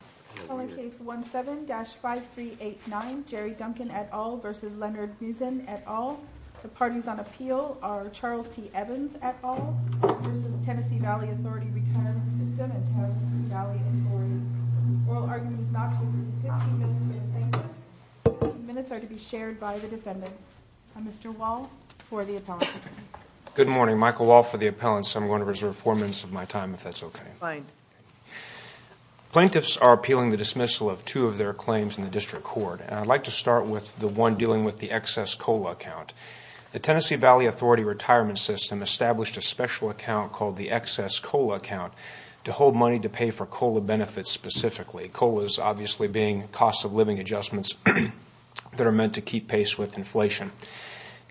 The parties on appeal are Charles T. Evans et al. v. Tennessee Valley Authority Retirement System at Tennessee Valley Inquiry. Oral argument is not to exceed 15 minutes with plaintiffs. 15 minutes are to be shared by the defendants. Mr. Wall for the appellants. Good morning. Michael Wall for the appellants. I'm going to reserve 4 minutes of my time if that's okay. Plaintiffs are appealing the dismissal of two of their claims in the district court. I'd like to start with the one dealing with the excess COLA account. The Tennessee Valley Authority Retirement System established a special account called the excess COLA account to hold money to pay for COLA benefits specifically. COLA is obviously being cost of living adjustments that are meant to keep pace with inflation.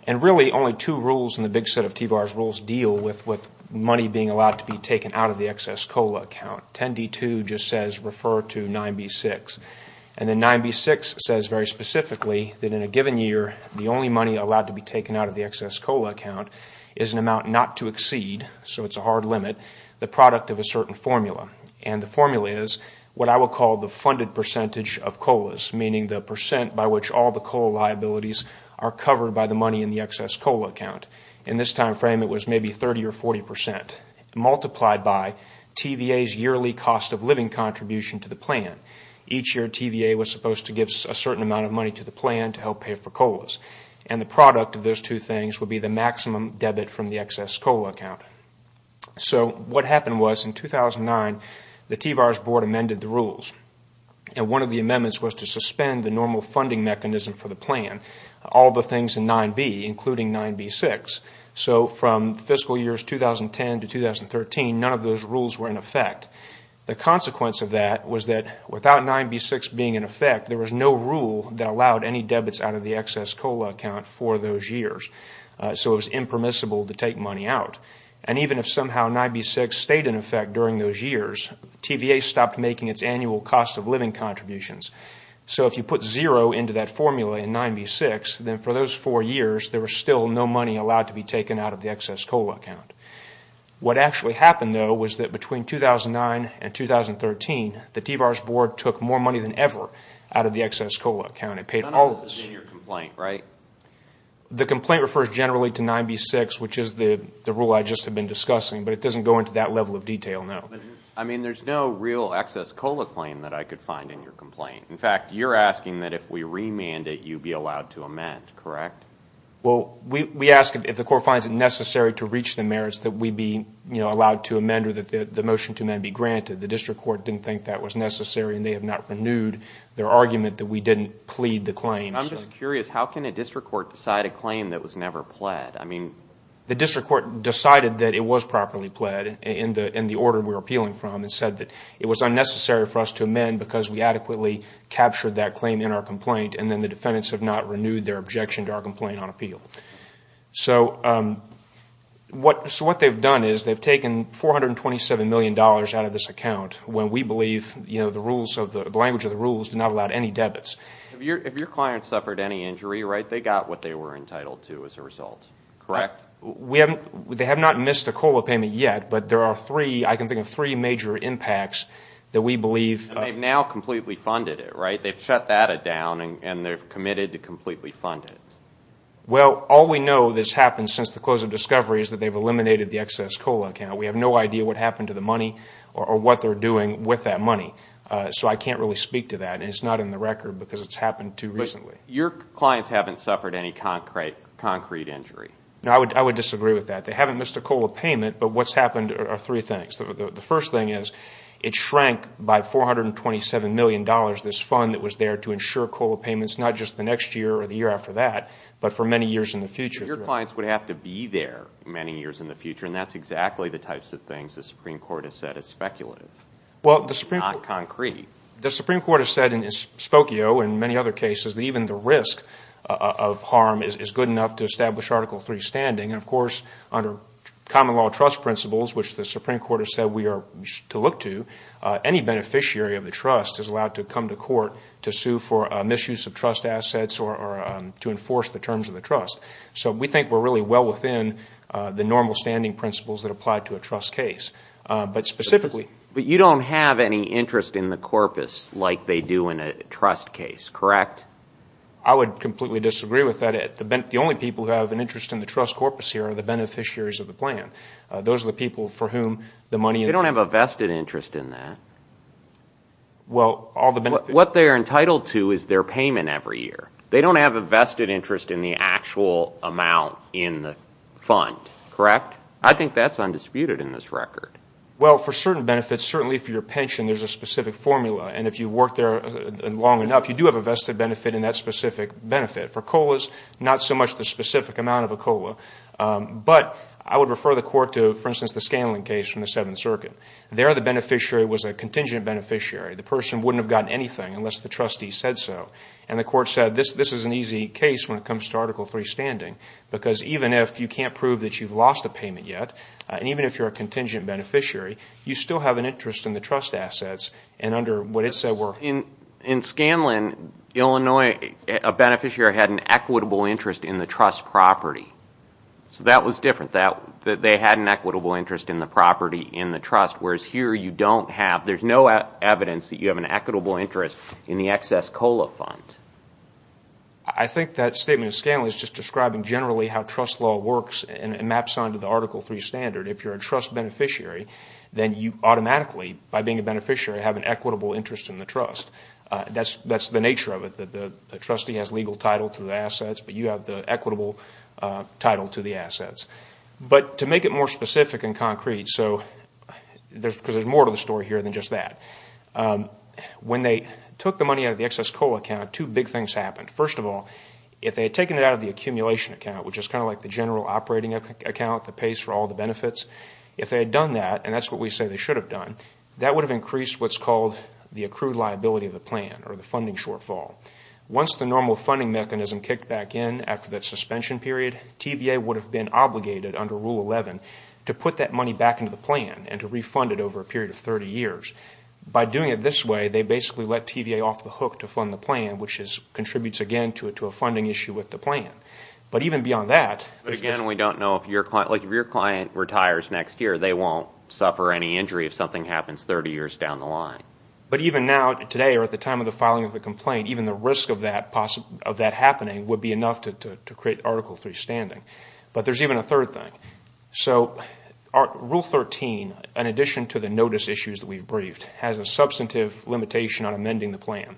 And really only two rules in the big set of TBAR's rules deal with money being allowed to be taken out of the excess COLA account. 10D2 just says refer to 9B6. And then 9B6 says very specifically that in a given year the only money allowed to be taken out of the excess COLA account is an amount not to exceed, so it's a hard limit, the product of a certain formula. And the formula is what I would call the funded percentage of COLAs, meaning the percent by which all the COLA liabilities are covered by the money in the excess COLA account. In this time frame it was maybe 30 or 40% multiplied by TVA's yearly cost of living contribution to the plan. Each year TVA was supposed to give a certain amount of money to the plan to help pay for COLAs. And the product of those two things would be the maximum debit from the excess COLA account. So what happened was in 2009 the TVAR's board amended the rules. And one of the amendments was to suspend the normal funding mechanism for the plan, all the things in 9B including 9B6. So from fiscal years 2010 to 2013 none of those rules were in effect. The consequence of that was that without 9B6 being in effect there was no rule that allowed any debits out of the excess COLA account for those years. So it was impermissible to take money out. And even if somehow 9B6 stayed in effect during those years TVA stopped making its annual cost of living contributions. So if you put zero into that formula in 9B6 then for those four years there was still no money allowed to be taken out of the excess COLA account. What actually happened though was that between 2009 and 2013 the TVAR's board took more money than ever out of the excess COLA account. It paid all of this. The complaint refers generally to 9B6 which is the rule I just have been discussing. But it doesn't go into that level of detail now. I mean there's no real excess COLA claim that I could find in your complaint. In fact you're asking that if we remand it you be allowed to amend, correct? Well we ask if the court finds it necessary to reach the merits that we be allowed to amend or that the motion to amend be granted. The district court didn't think that was necessary and they have not renewed their argument that we didn't plead the claim. I'm just curious how can a district court decide a claim that was never pled? I mean the district court decided that it was properly pled in the order we were appealing from and said that it was unnecessary for us to amend because we adequately captured that claim in our complaint and then the defendants have not renewed their objection to our complaint on appeal. So what they've done is they've taken $427 million out of this account when we believe the rules, the language of the rules do not allow any debits. If your client suffered any injury, right, they got what they were entitled to as a result, correct? They have not missed a COLA payment yet but there are three, I can think of three major impacts that we believe. And they've now completely funded it, right? They've shut that down and they've committed to completely fund it. Well all we know that's happened since the close of discovery is that they've eliminated the excess COLA account. We have no idea what happened to the money or what they're doing with that money. So I can't really speak to that and it's not in the record because it's happened too recently. Your clients haven't suffered any concrete injury? No, I would disagree with that. They haven't missed a COLA payment but what's happened are three things. The first thing is it shrank by $427 million, this fund that was there to ensure COLA payments, not just the next year or the year after that but for many years in the future. Your clients would have to be there many years in the future and that's exactly the types of things the Supreme Court has said is speculative. Well, the Supreme Court. Not concrete. The Supreme Court has said in Spokio and many other cases that even the risk of harm is good enough to establish Article III standing. And, of course, under common law trust principles, which the Supreme Court has said we are to look to, any beneficiary of the trust is allowed to come to court to sue for misuse of trust assets or to enforce the terms of the trust. So we think we're really well within the normal standing principles that apply to a trust case. But you don't have any interest in the corpus like they do in a trust case, correct? I would completely disagree with that. The only people who have an interest in the trust corpus here are the beneficiaries of the plan. Those are the people for whom the money is. They don't have a vested interest in that. Well, all the benefits. What they're entitled to is their payment every year. They don't have a vested interest in the actual amount in the fund, correct? I think that's undisputed in this record. Well, for certain benefits, certainly for your pension, there's a specific formula. And if you work there long enough, you do have a vested benefit in that specific benefit. For COLAs, not so much the specific amount of a COLA. But I would refer the court to, for instance, the Scanlon case from the Seventh Circuit. There the beneficiary was a contingent beneficiary. The person wouldn't have gotten anything unless the trustee said so. And the court said this is an easy case when it comes to Article III standing, because even if you can't prove that you've lost a payment yet, and even if you're a contingent beneficiary, you still have an interest in the trust assets and under what it said were. In Scanlon, Illinois, a beneficiary had an equitable interest in the trust property. So that was different. They had an equitable interest in the property in the trust, whereas here you don't have. There's no evidence that you have an equitable interest in the excess COLA fund. I think that statement of Scanlon is just describing generally how trust law works and maps onto the Article III standard. If you're a trust beneficiary, then you automatically, by being a beneficiary, have an equitable interest in the trust. That's the nature of it, that the trustee has legal title to the assets, but you have the equitable title to the assets. But to make it more specific and concrete, because there's more to the story here than just that, when they took the money out of the excess COLA account, two big things happened. First of all, if they had taken it out of the accumulation account, which is kind of like the general operating account that pays for all the benefits, if they had done that, and that's what we say they should have done, that would have increased what's called the accrued liability of the plan or the funding shortfall. Once the normal funding mechanism kicked back in after that suspension period, TVA would have been obligated under Rule 11 to put that money back into the plan and to refund it over a period of 30 years. By doing it this way, they basically let TVA off the hook to fund the plan, which contributes again to a funding issue with the plan. But even beyond that... But again, we don't know if your client, like if your client retires next year, they won't suffer any injury if something happens 30 years down the line. But even now, today, or at the time of the filing of the complaint, even the risk of that happening would be enough to create Article III standing. But there's even a third thing. So Rule 13, in addition to the notice issues that we've briefed, has a substantive limitation on amending the plan.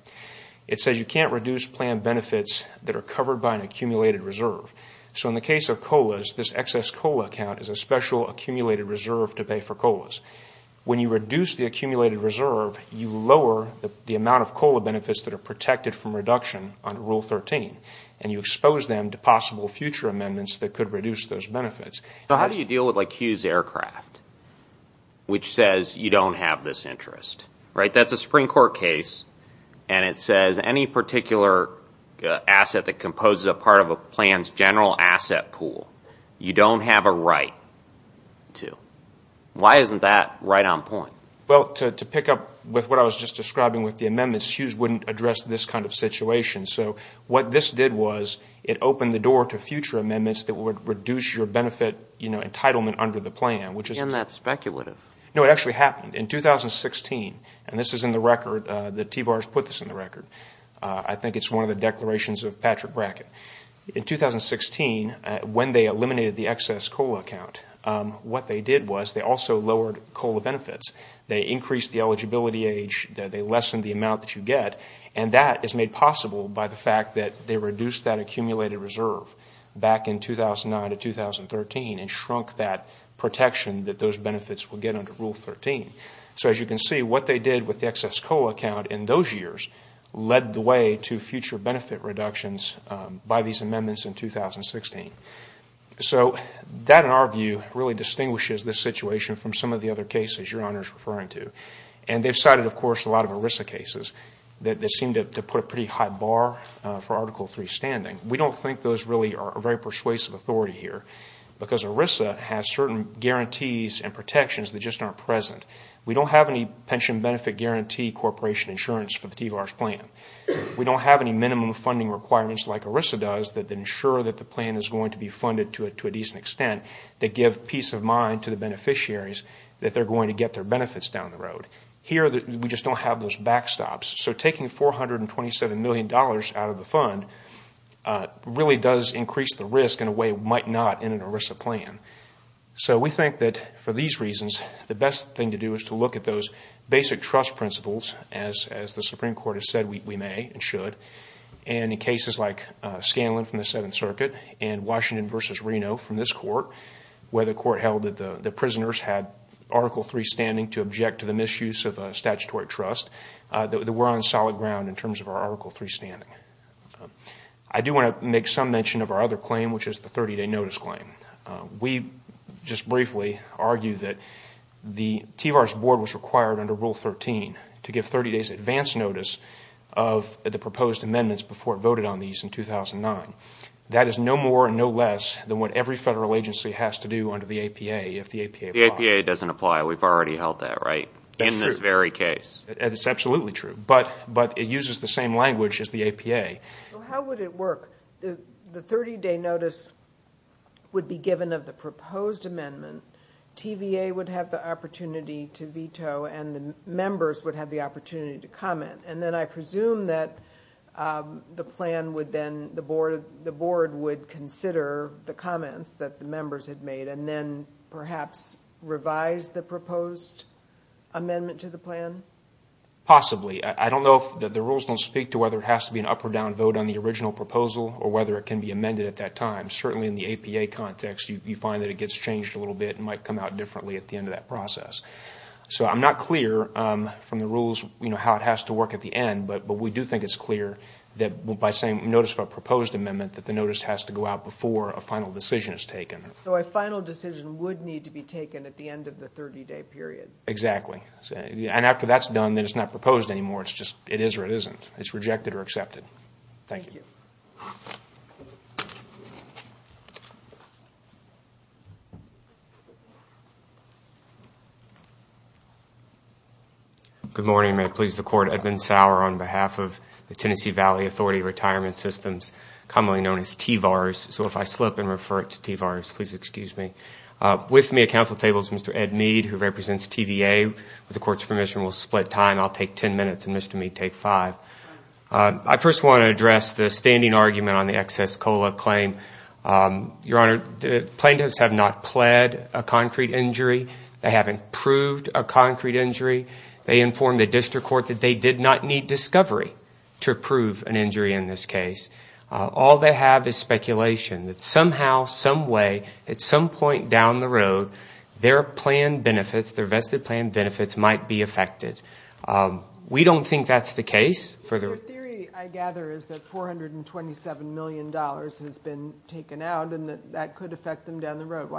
It says you can't reduce plan benefits that are covered by an accumulated reserve. So in the case of COLAs, this excess COLA account is a special accumulated reserve to pay for COLAs. When you reduce the accumulated reserve, you lower the amount of COLA benefits that are protected from reduction under Rule 13, and you expose them to possible future amendments that could reduce those benefits. So how do you deal with like Hughes Aircraft, which says you don't have this interest? That's a Supreme Court case, and it says any particular asset that composes a part of a plan's general asset pool, you don't have a right to. Why isn't that right on point? Well, to pick up with what I was just describing with the amendments, Hughes wouldn't address this kind of situation. So what this did was it opened the door to future amendments that would reduce your benefit entitlement under the plan. Isn't that speculative? No, it actually happened. In 2016, and this is in the record, the TVARS put this in the record. I think it's one of the declarations of Patrick Brackett. In 2016, when they eliminated the excess COLA account, what they did was they also lowered COLA benefits. They increased the eligibility age. They lessened the amount that you get. And that is made possible by the fact that they reduced that accumulated reserve back in 2009 to 2013 and shrunk that protection that those benefits would get under Rule 13. So as you can see, what they did with the excess COLA account in those years led the way to future benefit reductions by these amendments in 2016. So that, in our view, really distinguishes this situation from some of the other cases Your Honor is referring to. And they've cited, of course, a lot of ERISA cases that seem to put a pretty high bar for Article III standing. We don't think those really are a very persuasive authority here because ERISA has certain guarantees and protections that just aren't present. We don't have any pension benefit guarantee corporation insurance for the TVARS plan. We don't have any minimum funding requirements like ERISA does that ensure that the plan is going to be funded to a decent extent that give peace of mind to the beneficiaries that they're going to get their benefits down the road. Here, we just don't have those backstops. So taking $427 million out of the fund really does increase the risk in a way it might not in an ERISA plan. So we think that for these reasons, the best thing to do is to look at those basic trust principles, as the Supreme Court has said we may and should. And in cases like Scanlon from the Seventh Circuit and Washington v. Reno from this court, where the court held that the prisoners had Article III standing to object to the misuse of a statutory trust, that we're on solid ground in terms of our Article III standing. I do want to make some mention of our other claim, which is the 30-day notice claim. We just briefly argue that the TVARS board was required under Rule 13 to give 30 days advance notice of the proposed amendments before it voted on these in 2009. That is no more and no less than what every federal agency has to do under the APA if the APA applies. The APA doesn't apply. We've already held that, right, in this very case? That's true. It's absolutely true. But it uses the same language as the APA. So how would it work? The 30-day notice would be given of the proposed amendment. TVA would have the opportunity to veto, and the members would have the opportunity to comment. And then I presume that the board would consider the comments that the members had made and then perhaps revise the proposed amendment to the plan? Possibly. I don't know if the rules don't speak to whether it has to be an up or down vote on the original proposal or whether it can be amended at that time. Certainly in the APA context, you find that it gets changed a little bit and might come out differently at the end of that process. So I'm not clear from the rules how it has to work at the end, but we do think it's clear that by saying notice of a proposed amendment, that the notice has to go out before a final decision is taken. So a final decision would need to be taken at the end of the 30-day period. Exactly. And after that's done, then it's not proposed anymore. It's just it is or it isn't. It's rejected or accepted. Thank you. Thank you. Good morning. May it please the Court, Edmund Sauer on behalf of the Tennessee Valley Authority Retirement Systems, commonly known as TVARS. So if I slip and refer it to TVARS, please excuse me. With me at council table is Mr. Ed Mead, who represents TVA. With the Court's permission, we'll split time. I'll take ten minutes and Mr. Mead will take five. I first want to address the standing argument on the excess COLA claim. Your Honor, plaintiffs have not pled a concrete injury. They haven't proved a concrete injury. They informed the district court that they did not need discovery to prove an injury in this case. All they have is speculation that somehow, some way, at some point down the road, their plan benefits, their vested plan benefits might be affected. We don't think that's the case. Your theory, I gather, is that $427 million has been taken out and that that could affect them down the road.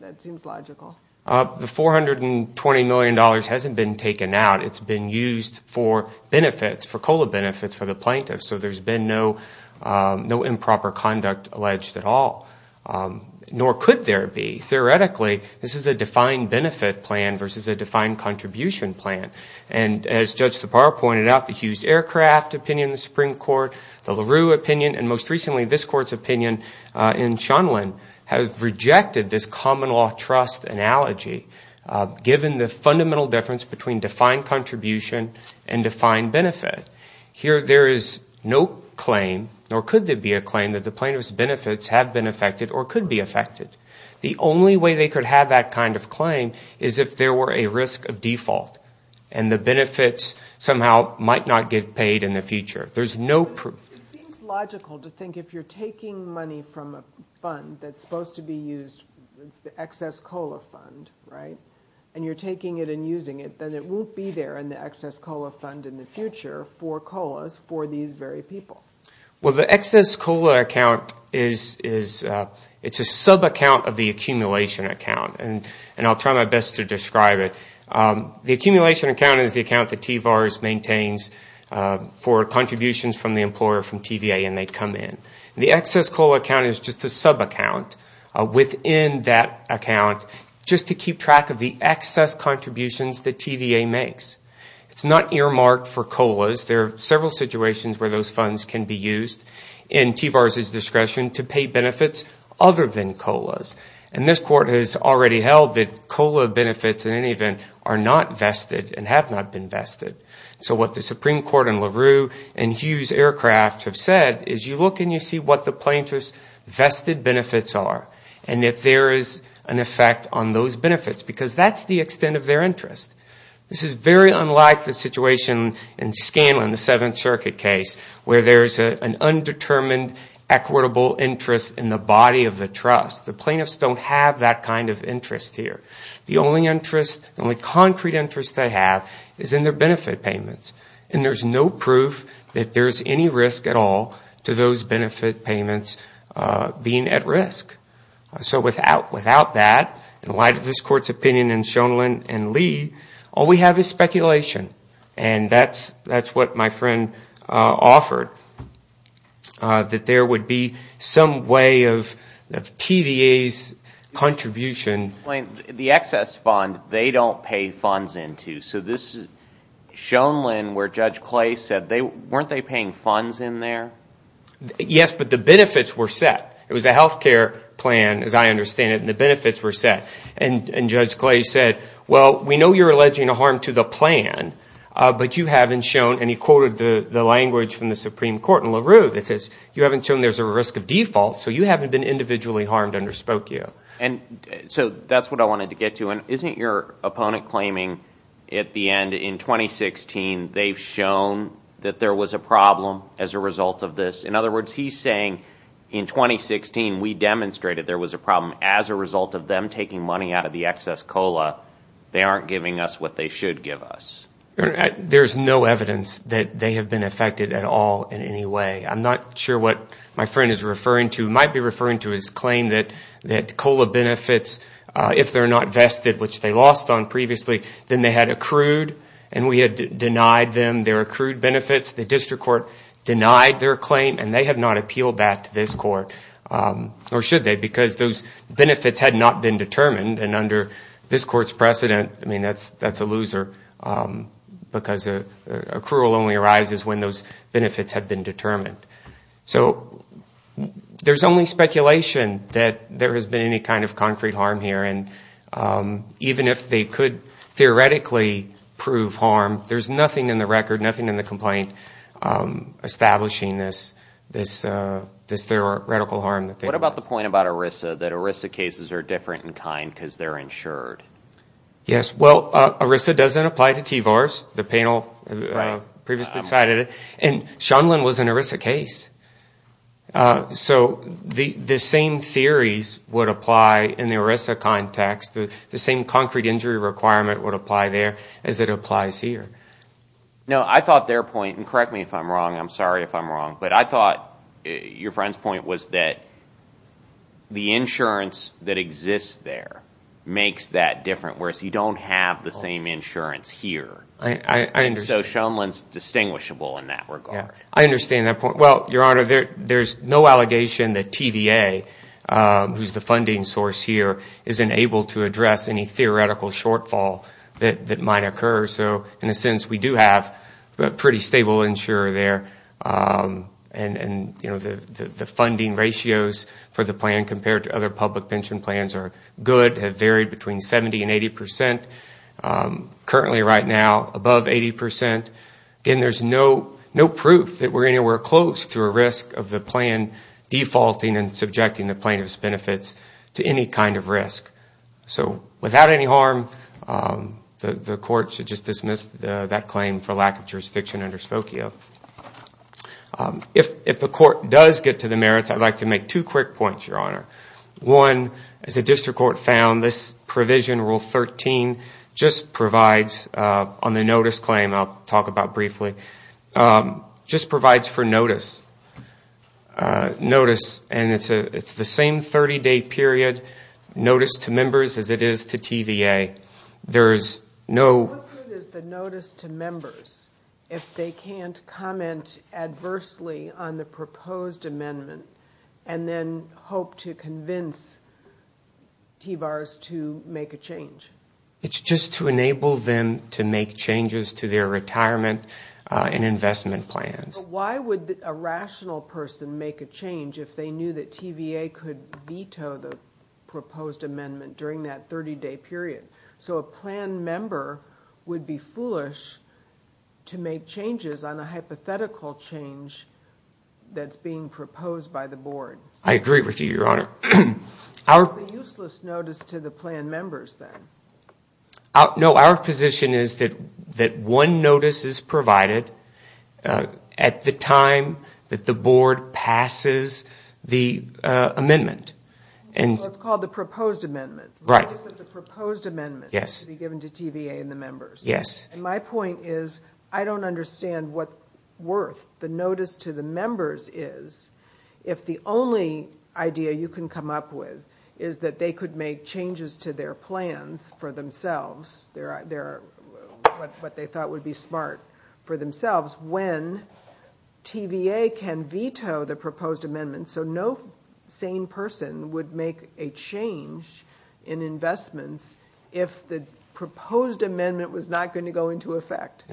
That seems logical. The $420 million hasn't been taken out. It's been used for benefits, for COLA benefits for the plaintiffs. So there's been no improper conduct alleged at all, nor could there be. Theoretically, this is a defined benefit plan versus a defined contribution plan. And as Judge Tappara pointed out, the Hughes Aircraft opinion in the Supreme Court, the LaRue opinion, and most recently this Court's opinion in Shonlen, have rejected this common law trust analogy, given the fundamental difference between defined contribution and defined benefit. Here there is no claim, nor could there be a claim, that the plaintiff's benefits have been affected or could be affected. The only way they could have that kind of claim is if there were a risk of default and the benefits somehow might not get paid in the future. There's no proof. It seems logical to think if you're taking money from a fund that's supposed to be used, it's the excess COLA fund, right, and you're taking it and using it, then it won't be there in the excess COLA fund in the future for COLAs for these very people. Well, the excess COLA account is a sub-account of the accumulation account, and I'll try my best to describe it. The accumulation account is the account that TVARS maintains for contributions from the employer from TVA, and they come in. The excess COLA account is just a sub-account within that account just to keep track of the excess contributions that TVA makes. It's not earmarked for COLAs. There are several situations where those funds can be used in TVARS' discretion to pay benefits other than COLAs, and this Court has already held that COLA benefits in any event are not vested and have not been vested. So what the Supreme Court in LaRue and Hughes Aircraft have said is you look and you see what the plaintiff's vested benefits are and if there is an effect on those benefits because that's the extent of their interest. This is very unlike the situation in Scanlon, the Seventh Circuit case, where there's an undetermined equitable interest in the body of the trust. The plaintiffs don't have that kind of interest here. The only interest, the only concrete interest they have is in their benefit payments, and there's no proof that there's any risk at all to those benefit payments being at risk. So without that, in light of this Court's opinion in Schoenlein and Lee, all we have is speculation, and that's what my friend offered, that there would be some way of TVA's contribution. The excess fund they don't pay funds into. So this is Schoenlein where Judge Clay said weren't they paying funds in there? Yes, but the benefits were set. It was a health care plan, as I understand it, and the benefits were set. And Judge Clay said, well, we know you're alleging a harm to the plan, but you haven't shown, and he quoted the language from the Supreme Court in LaRue that says, you haven't shown there's a risk of default, so you haven't been individually harmed under Spokio. So that's what I wanted to get to. Isn't your opponent claiming at the end, in 2016, they've shown that there was a problem as a result of this? In other words, he's saying in 2016, we demonstrated there was a problem as a result of them taking money out of the excess COLA. They aren't giving us what they should give us. There's no evidence that they have been affected at all in any way. I'm not sure what my friend is referring to. He might be referring to his claim that COLA benefits, if they're not vested, which they lost on previously, then they had accrued, and we had denied them their accrued benefits. The district court denied their claim, and they have not appealed that to this court, or should they, because those benefits had not been determined, and under this court's precedent, I mean, that's a loser because accrual only arises when those benefits have been determined. So there's only speculation that there has been any kind of concrete harm here, and even if they could theoretically prove harm, there's nothing in the record, nothing in the complaint establishing this theoretical harm. What about the point about ERISA, that ERISA cases are different in kind because they're insured? Yes, well, ERISA doesn't apply to T-VARS. The panel previously cited it. And Shundlin was an ERISA case. So the same theories would apply in the ERISA context. The same concrete injury requirement would apply there as it applies here. No, I thought their point, and correct me if I'm wrong, I'm sorry if I'm wrong, but I thought your friend's point was that the insurance that exists there makes that different, whereas you don't have the same insurance here. So Shundlin's distinguishable in that regard. I understand that point. Well, Your Honor, there's no allegation that TVA, who's the funding source here, isn't able to address any theoretical shortfall that might occur. So in a sense, we do have a pretty stable insurer there, and the funding ratios for the plan compared to other public pension plans are good, have varied between 70 and 80 percent. Currently right now, above 80 percent. Again, there's no proof that we're anywhere close to a risk of the plan defaulting and subjecting the plaintiff's benefits to any kind of risk. So without any harm, the court should just dismiss that claim for lack of jurisdiction under Spokio. If the court does get to the merits, I'd like to make two quick points, Your Honor. One, as the district court found, this provision, Rule 13, just provides on the notice claim, and I'll talk about briefly, just provides for notice. Notice, and it's the same 30-day period, notice to members as it is to TVA. There is no- What good is the notice to members if they can't comment adversely on the proposed amendment and then hope to convince TVARS to make a change? It's just to enable them to make changes to their retirement and investment plans. But why would a rational person make a change if they knew that TVA could veto the proposed amendment during that 30-day period? So a plan member would be foolish to make changes on a hypothetical change that's being proposed by the board. I agree with you, Your Honor. It's a useless notice to the plan members, then. No, our position is that one notice is provided at the time that the board passes the amendment. It's called the proposed amendment. Why is it the proposed amendment should be given to TVA and the members? Yes. My point is I don't understand what worth the notice to the members is if the only idea you can come up with is that they could make changes to their plans for themselves, what they thought would be smart for themselves, when TVA can veto the proposed amendment so no sane person would make a change in investments if the proposed amendment was not going to go into effect.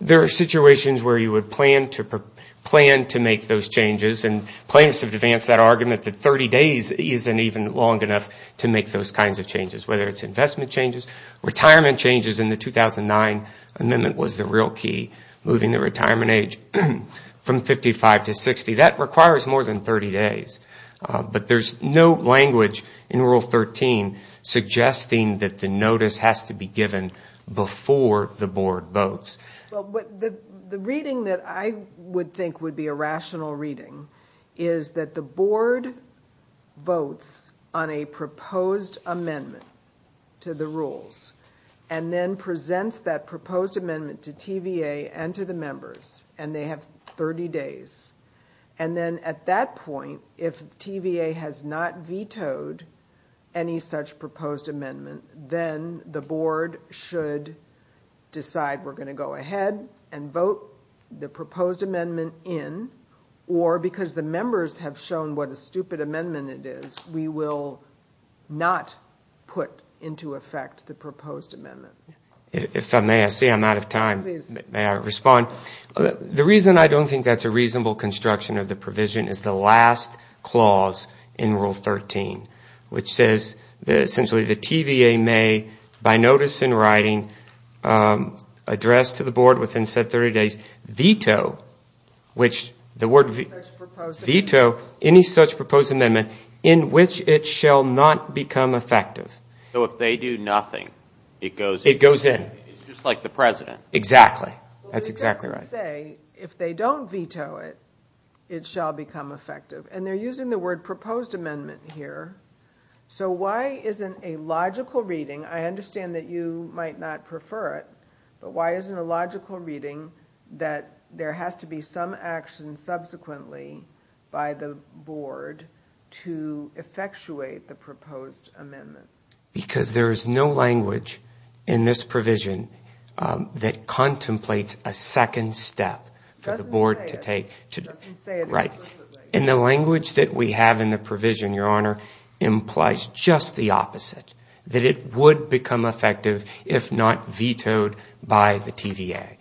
There are situations where you would plan to make those changes, and planners have advanced that argument that 30 days isn't even long enough to make those kinds of changes, whether it's investment changes. Retirement changes in the 2009 amendment was the real key, moving the retirement age from 55 to 60. That requires more than 30 days. But there's no language in Rule 13 suggesting that the notice has to be given before the board votes. The reading that I would think would be a rational reading is that the board votes on a proposed amendment to the rules, and then presents that proposed amendment to TVA and to the members, and they have 30 days. And then at that point, if TVA has not vetoed any such proposed amendment, then the board should decide we're going to go ahead and vote the proposed amendment in, or because the members have shown what a stupid amendment it is, we will not put into effect the proposed amendment. If I may, I see I'm out of time. Please. May I respond? The reason I don't think that's a reasonable construction of the provision is the last clause in Rule 13, which says that essentially the TVA may, by notice in writing, address to the board within said 30 days, veto any such proposed amendment in which it shall not become effective. So if they do nothing, it goes in. It goes in. It's just like the President. Exactly. That's exactly right. But it doesn't say if they don't veto it, it shall become effective. And they're using the word proposed amendment here. So why isn't a logical reading, I understand that you might not prefer it, but why isn't a logical reading that there has to be some action subsequently by the board to effectuate the proposed amendment? Because there is no language in this provision that contemplates a second step for the board to take. It doesn't say it explicitly. And the language that we have in the provision, Your Honor, implies just the opposite, that it would become effective if not vetoed by the TVA.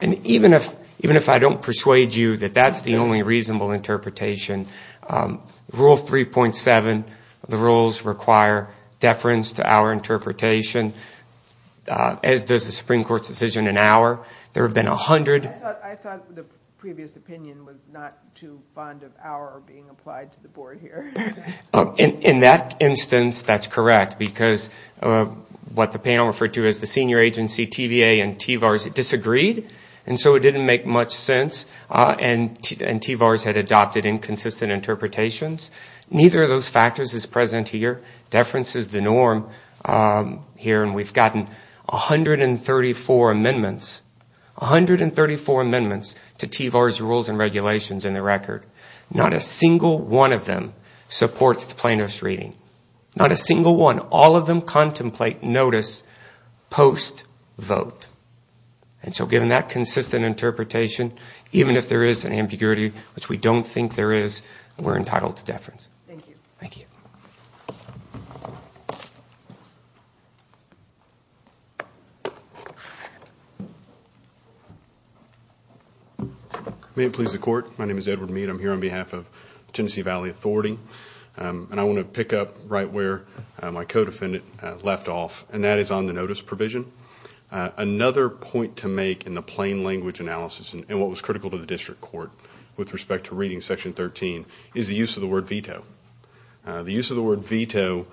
And even if I don't persuade you that that's the only reasonable interpretation, Rule 3.7, the rules require deference to our interpretation, as does the Supreme Court's decision in Auer. There have been 100. I thought the previous opinion was not too fond of Auer being applied to the board here. In that instance, that's correct, because what the panel referred to as the senior agency TVA and TVARS disagreed. And so it didn't make much sense. And TVARS had adopted inconsistent interpretations. Neither of those factors is present here. Deference is the norm here. And we've gotten 134 amendments, 134 amendments to TVARS rules and regulations in the record. Not a single one of them supports the plaintiff's reading. Not a single one. All of them contemplate notice post-vote. And so given that consistent interpretation, even if there is an ambiguity, which we don't think there is, we're entitled to deference. Thank you. Thank you. May it please the Court. My name is Edward Mead. I'm here on behalf of Tennessee Valley Authority. And I want to pick up right where my co-defendant left off, and that is on the notice provision. Another point to make in the plain language analysis, and what was critical to the district court with respect to reading Section 13, is the use of the word veto. The use of the word veto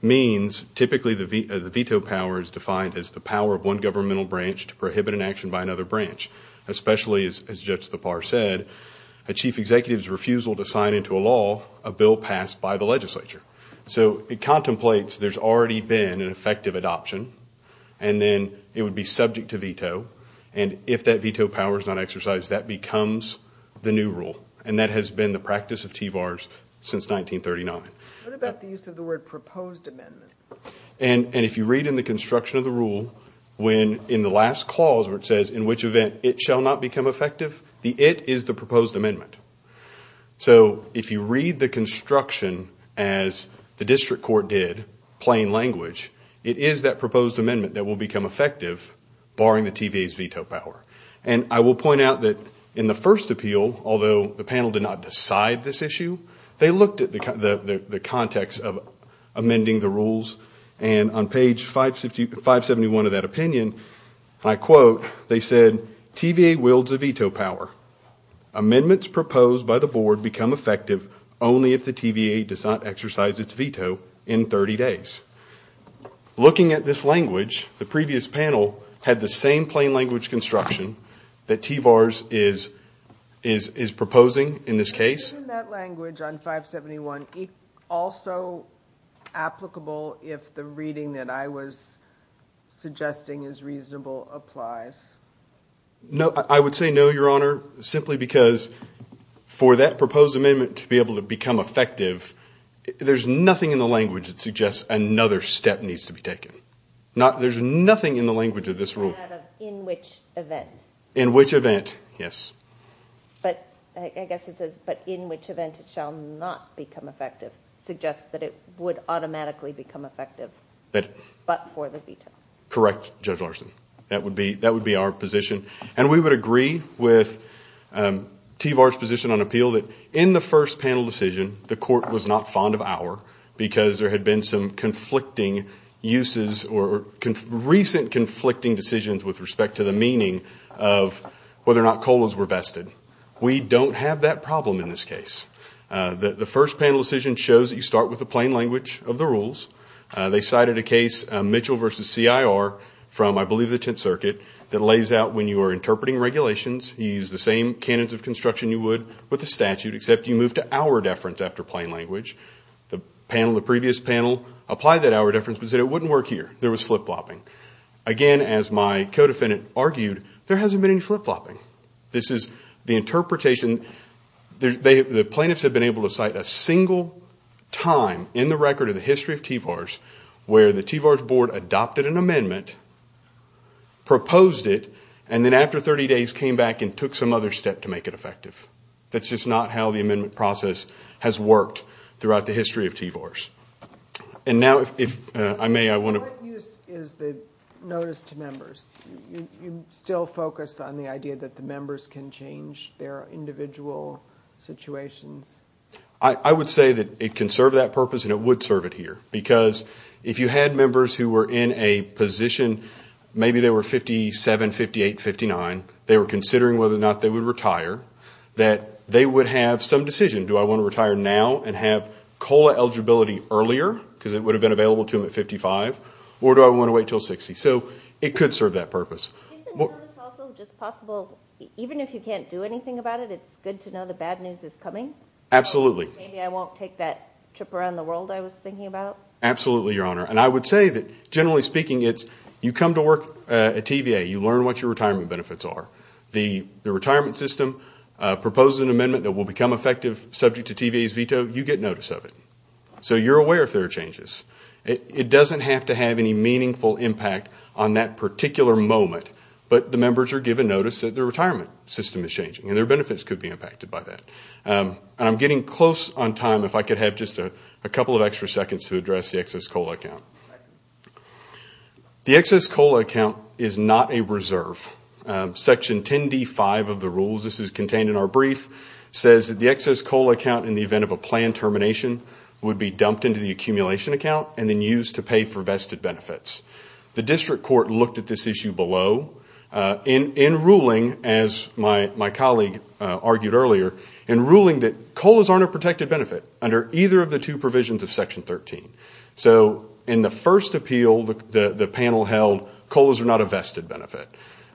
means typically the veto power is defined as the power of one governmental branch to prohibit an action by another branch, especially, as Judge Thapar said, a chief executive's refusal to sign into a law a bill passed by the legislature. So it contemplates there's already been an effective adoption, and then it would be subject to veto. And if that veto power is not exercised, that becomes the new rule. And that has been the practice of TVARS since 1939. What about the use of the word proposed amendment? And if you read in the construction of the rule, when in the last clause where it says, in which event it shall not become effective, the it is the proposed amendment. So if you read the construction as the district court did, plain language, it is that proposed amendment that will become effective, barring the TVA's veto power. And I will point out that in the first appeal, although the panel did not decide this issue, they looked at the context of amending the rules, and on page 571 of that opinion, I quote, they said, TVA wields a veto power. Amendments proposed by the board become effective only if the TVA does not exercise its veto in 30 days. Looking at this language, the previous panel had the same plain language construction that TVARS is proposing in this case. Isn't that language on 571 also applicable if the reading that I was suggesting is reasonable applies? No, I would say no, Your Honor, simply because for that proposed amendment to be able to become effective, there's nothing in the language that suggests another step needs to be taken. There's nothing in the language of this rule. In which event. In which event, yes. But I guess it says, but in which event it shall not become effective, suggests that it would automatically become effective but for the veto. Correct, Judge Larson. That would be our position. And we would agree with TVARS' position on appeal that in the first panel decision, the court was not fond of our because there had been some conflicting uses or recent conflicting decisions with respect to the meaning of whether or not COLAs were vested. We don't have that problem in this case. The first panel decision shows that you start with the plain language of the rules. They cited a case, Mitchell v. CIR, from I believe the Tenth Circuit, that lays out when you are interpreting regulations, you use the same canons of construction you would with the statute, except you move to our deference after plain language. The panel, the previous panel, applied that our deference but said it wouldn't work here. There was flip-flopping. Again, as my co-defendant argued, there hasn't been any flip-flopping. This is the interpretation. The plaintiffs have been able to cite a single time in the record of the history of TVARS where the TVARS board adopted an amendment, proposed it, and then after 30 days came back and took some other step to make it effective. That's just not how the amendment process has worked throughout the history of TVARS. And now if I may, I want to... What use is the notice to members? Do you still focus on the idea that the members can change their individual situations? I would say that it can serve that purpose and it would serve it here because if you had members who were in a position, maybe they were 57, 58, 59, they were considering whether or not they would retire, that they would have some decision. Do I want to retire now and have COLA eligibility earlier because it would have been available to them at 55? Or do I want to wait until 60? So it could serve that purpose. Isn't notice also just possible even if you can't do anything about it, it's good to know the bad news is coming? Absolutely. Maybe I won't take that trip around the world I was thinking about. Absolutely, Your Honor. And I would say that generally speaking it's you come to work at TVA, you learn what your retirement benefits are. The retirement system proposes an amendment that will become effective subject to TVA's veto, you get notice of it. So you're aware if there are changes. It doesn't have to have any meaningful impact on that particular moment, but the members are given notice that their retirement system is changing and their benefits could be impacted by that. And I'm getting close on time. If I could have just a couple of extra seconds to address the excess COLA account. The excess COLA account is not a reserve. Section 10D.5 of the rules, this is contained in our brief, says that the excess COLA account in the event of a planned termination would be dumped into the accumulation account and then used to pay for vested benefits. The district court looked at this issue below. In ruling, as my colleague argued earlier, in ruling that COLA's aren't a protected benefit under either of the two provisions of Section 13. So in the first appeal, the panel held COLA's are not a vested benefit.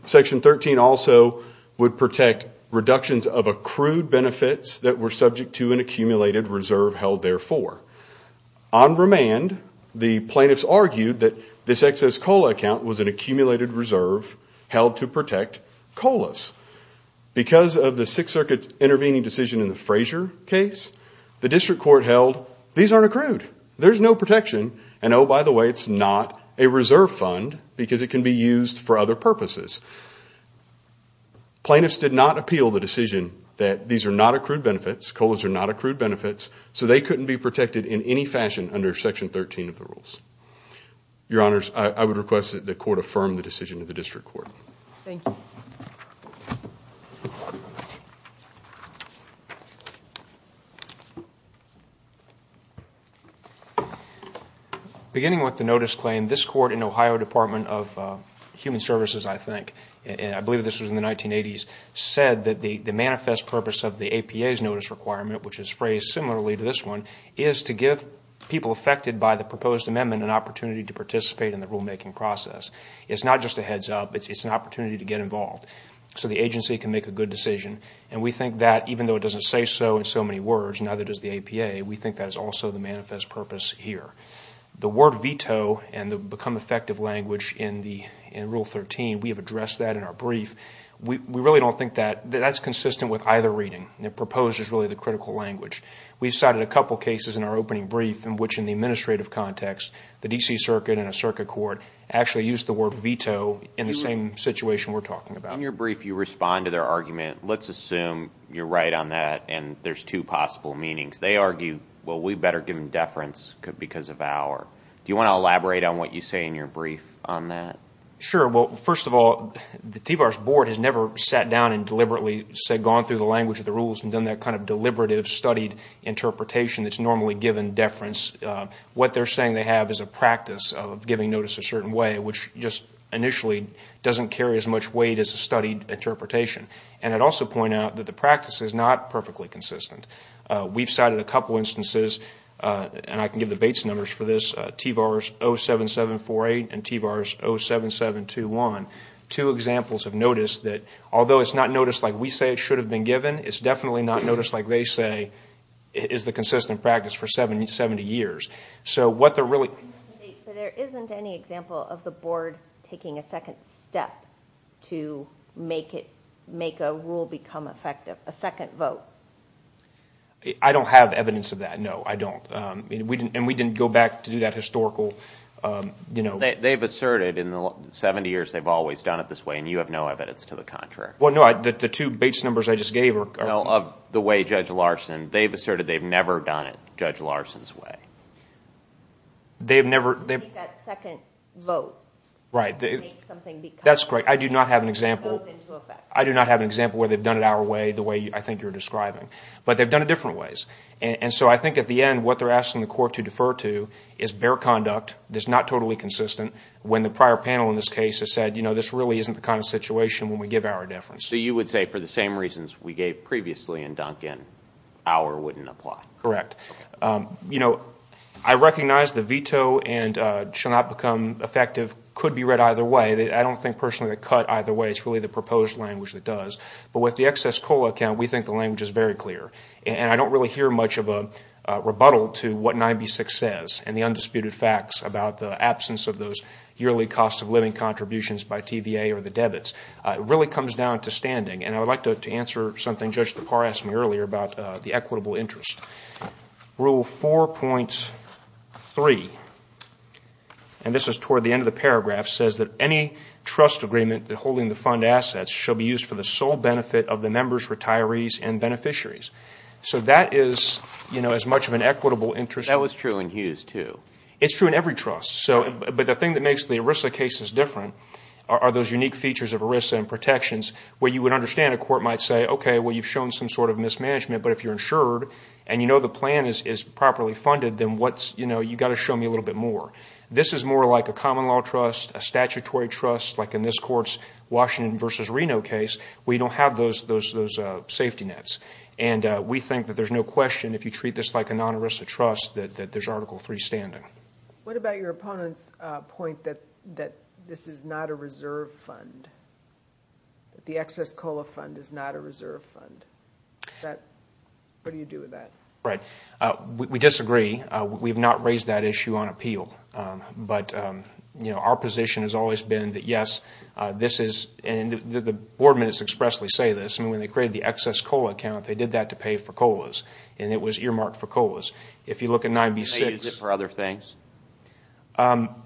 Section 13 also would protect reductions of accrued benefits that were subject to an accumulated reserve held therefore. On remand, the plaintiffs argued that this excess COLA account was an accumulated reserve held to protect COLA's. Because of the Sixth Circuit's intervening decision in the Frazier case, the district court held these aren't accrued. There's no protection. And oh, by the way, it's not a reserve fund because it can be used for other purposes. Plaintiffs did not appeal the decision that these are not accrued benefits, COLA's are not accrued benefits, so they couldn't be protected in any fashion under Section 13 of the rules. Your Honors, I would request that the court affirm the decision of the district court. Thank you. Beginning with the notice claim, this court in Ohio Department of Human Services, I think, and I believe this was in the 1980s, said that the manifest purpose of the APA's notice requirement, which is phrased similarly to this one, is to give people affected by the proposed amendment an opportunity to participate in the rulemaking process. It's not just a heads up. It's an opportunity to get involved so the agency can make a good decision. And we think that even though it doesn't say so in so many words, now that it is the APA, we think that is also the manifest purpose here. The word veto and the become effective language in Rule 13, we have addressed that in our brief. We really don't think that's consistent with either reading. The proposed is really the critical language. We cited a couple cases in our opening brief in which in the administrative context, the D.C. Circuit and a circuit court actually used the word veto in the same situation we're talking about. In your brief, you respond to their argument. Let's assume you're right on that and there's two possible meanings. They argue, well, we better give them deference because of our. Do you want to elaborate on what you say in your brief on that? Sure. Well, first of all, the TVARS Board has never sat down and deliberately gone through the language of the rules and done that kind of deliberative studied interpretation that's normally given deference. What they're saying they have is a practice of giving notice a certain way, which just initially doesn't carry as much weight as a studied interpretation. And I'd also point out that the practice is not perfectly consistent. We've cited a couple instances, and I can give the Bates numbers for this, TVARS 07748 and TVARS 07721. Two examples of notice that, although it's not notice like we say it should have been given, it's definitely not notice like they say is the consistent practice for 70 years. But there isn't any example of the Board taking a second step to make a rule become effective, a second vote. I don't have evidence of that, no, I don't. And we didn't go back to do that historical, you know. They've asserted in the 70 years they've always done it this way, and you have no evidence to the contrary. Well, no, the two Bates numbers I just gave are. Well, of the way Judge Larson, they've asserted they've never done it Judge Larson's way. They've never. That second vote. Right. That's great. I do not have an example. It goes into effect. I do not have an example where they've done it our way, the way I think you're describing. But they've done it different ways. And so I think at the end, what they're asking the court to defer to is bare conduct, that's not totally consistent, when the prior panel in this case has said, you know, this really isn't the kind of situation when we give our difference. So you would say for the same reasons we gave previously in Duncan, our wouldn't apply. Correct. You know, I recognize the veto and shall not become effective could be read either way. I don't think personally they cut either way. It's really the proposed language that does. But with the excess COLA account, we think the language is very clear. And I don't really hear much of a rebuttal to what 9B-6 says and the undisputed facts about the absence of those yearly cost of living contributions by TVA or the debits. It really comes down to standing. And I would like to answer something Judge DePauw asked me earlier about the equitable interest. Rule 4.3, and this is toward the end of the paragraph, says that any trust agreement holding the fund assets shall be used for the sole benefit of the members, retirees, and beneficiaries. So that is, you know, as much of an equitable interest. That was true in Hughes too. It's true in every trust. But the thing that makes the ERISA cases different are those unique features of ERISA and protections where you would understand a court might say, okay, well, you've shown some sort of mismanagement, but if you're insured and you know the plan is properly funded, then what's, you know, you've got to show me a little bit more. This is more like a common law trust, a statutory trust, like in this court's Washington v. Reno case where you don't have those safety nets. And we think that there's no question if you treat this like a non-ERISA trust that there's Article 3 standing. What about your opponent's point that this is not a reserve fund, that the excess COLA fund is not a reserve fund? What do you do with that? Right. We disagree. We have not raised that issue on appeal. But, you know, our position has always been that, yes, this is, and the board minutes expressly say this, I mean, when they created the excess COLA account, they did that to pay for COLAs, and it was earmarked for COLAs. If you look at 9B-6. Can they use it for other things? No,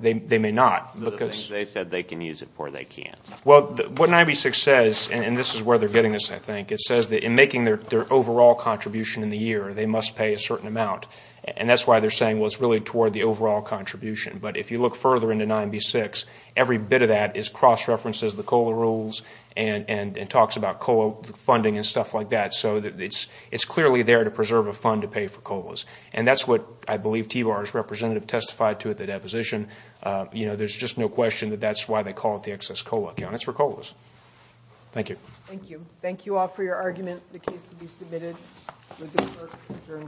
they may not. The things they said they can use it for, they can't. Well, what 9B-6 says, and this is where they're getting this, I think, it says that in making their overall contribution in the year, they must pay a certain amount. And that's why they're saying, well, it's really toward the overall contribution. But if you look further into 9B-6, every bit of that is cross-referenced as the COLA rules and talks about COLA funding and stuff like that. So it's clearly there to preserve a fund to pay for COLAs. And that's what I believe TVAR's representative testified to at the deposition. You know, there's just no question that that's why they call it the excess COLA account. It's for COLAs. Thank you. Thank you. Thank you all for your argument. The case will be submitted.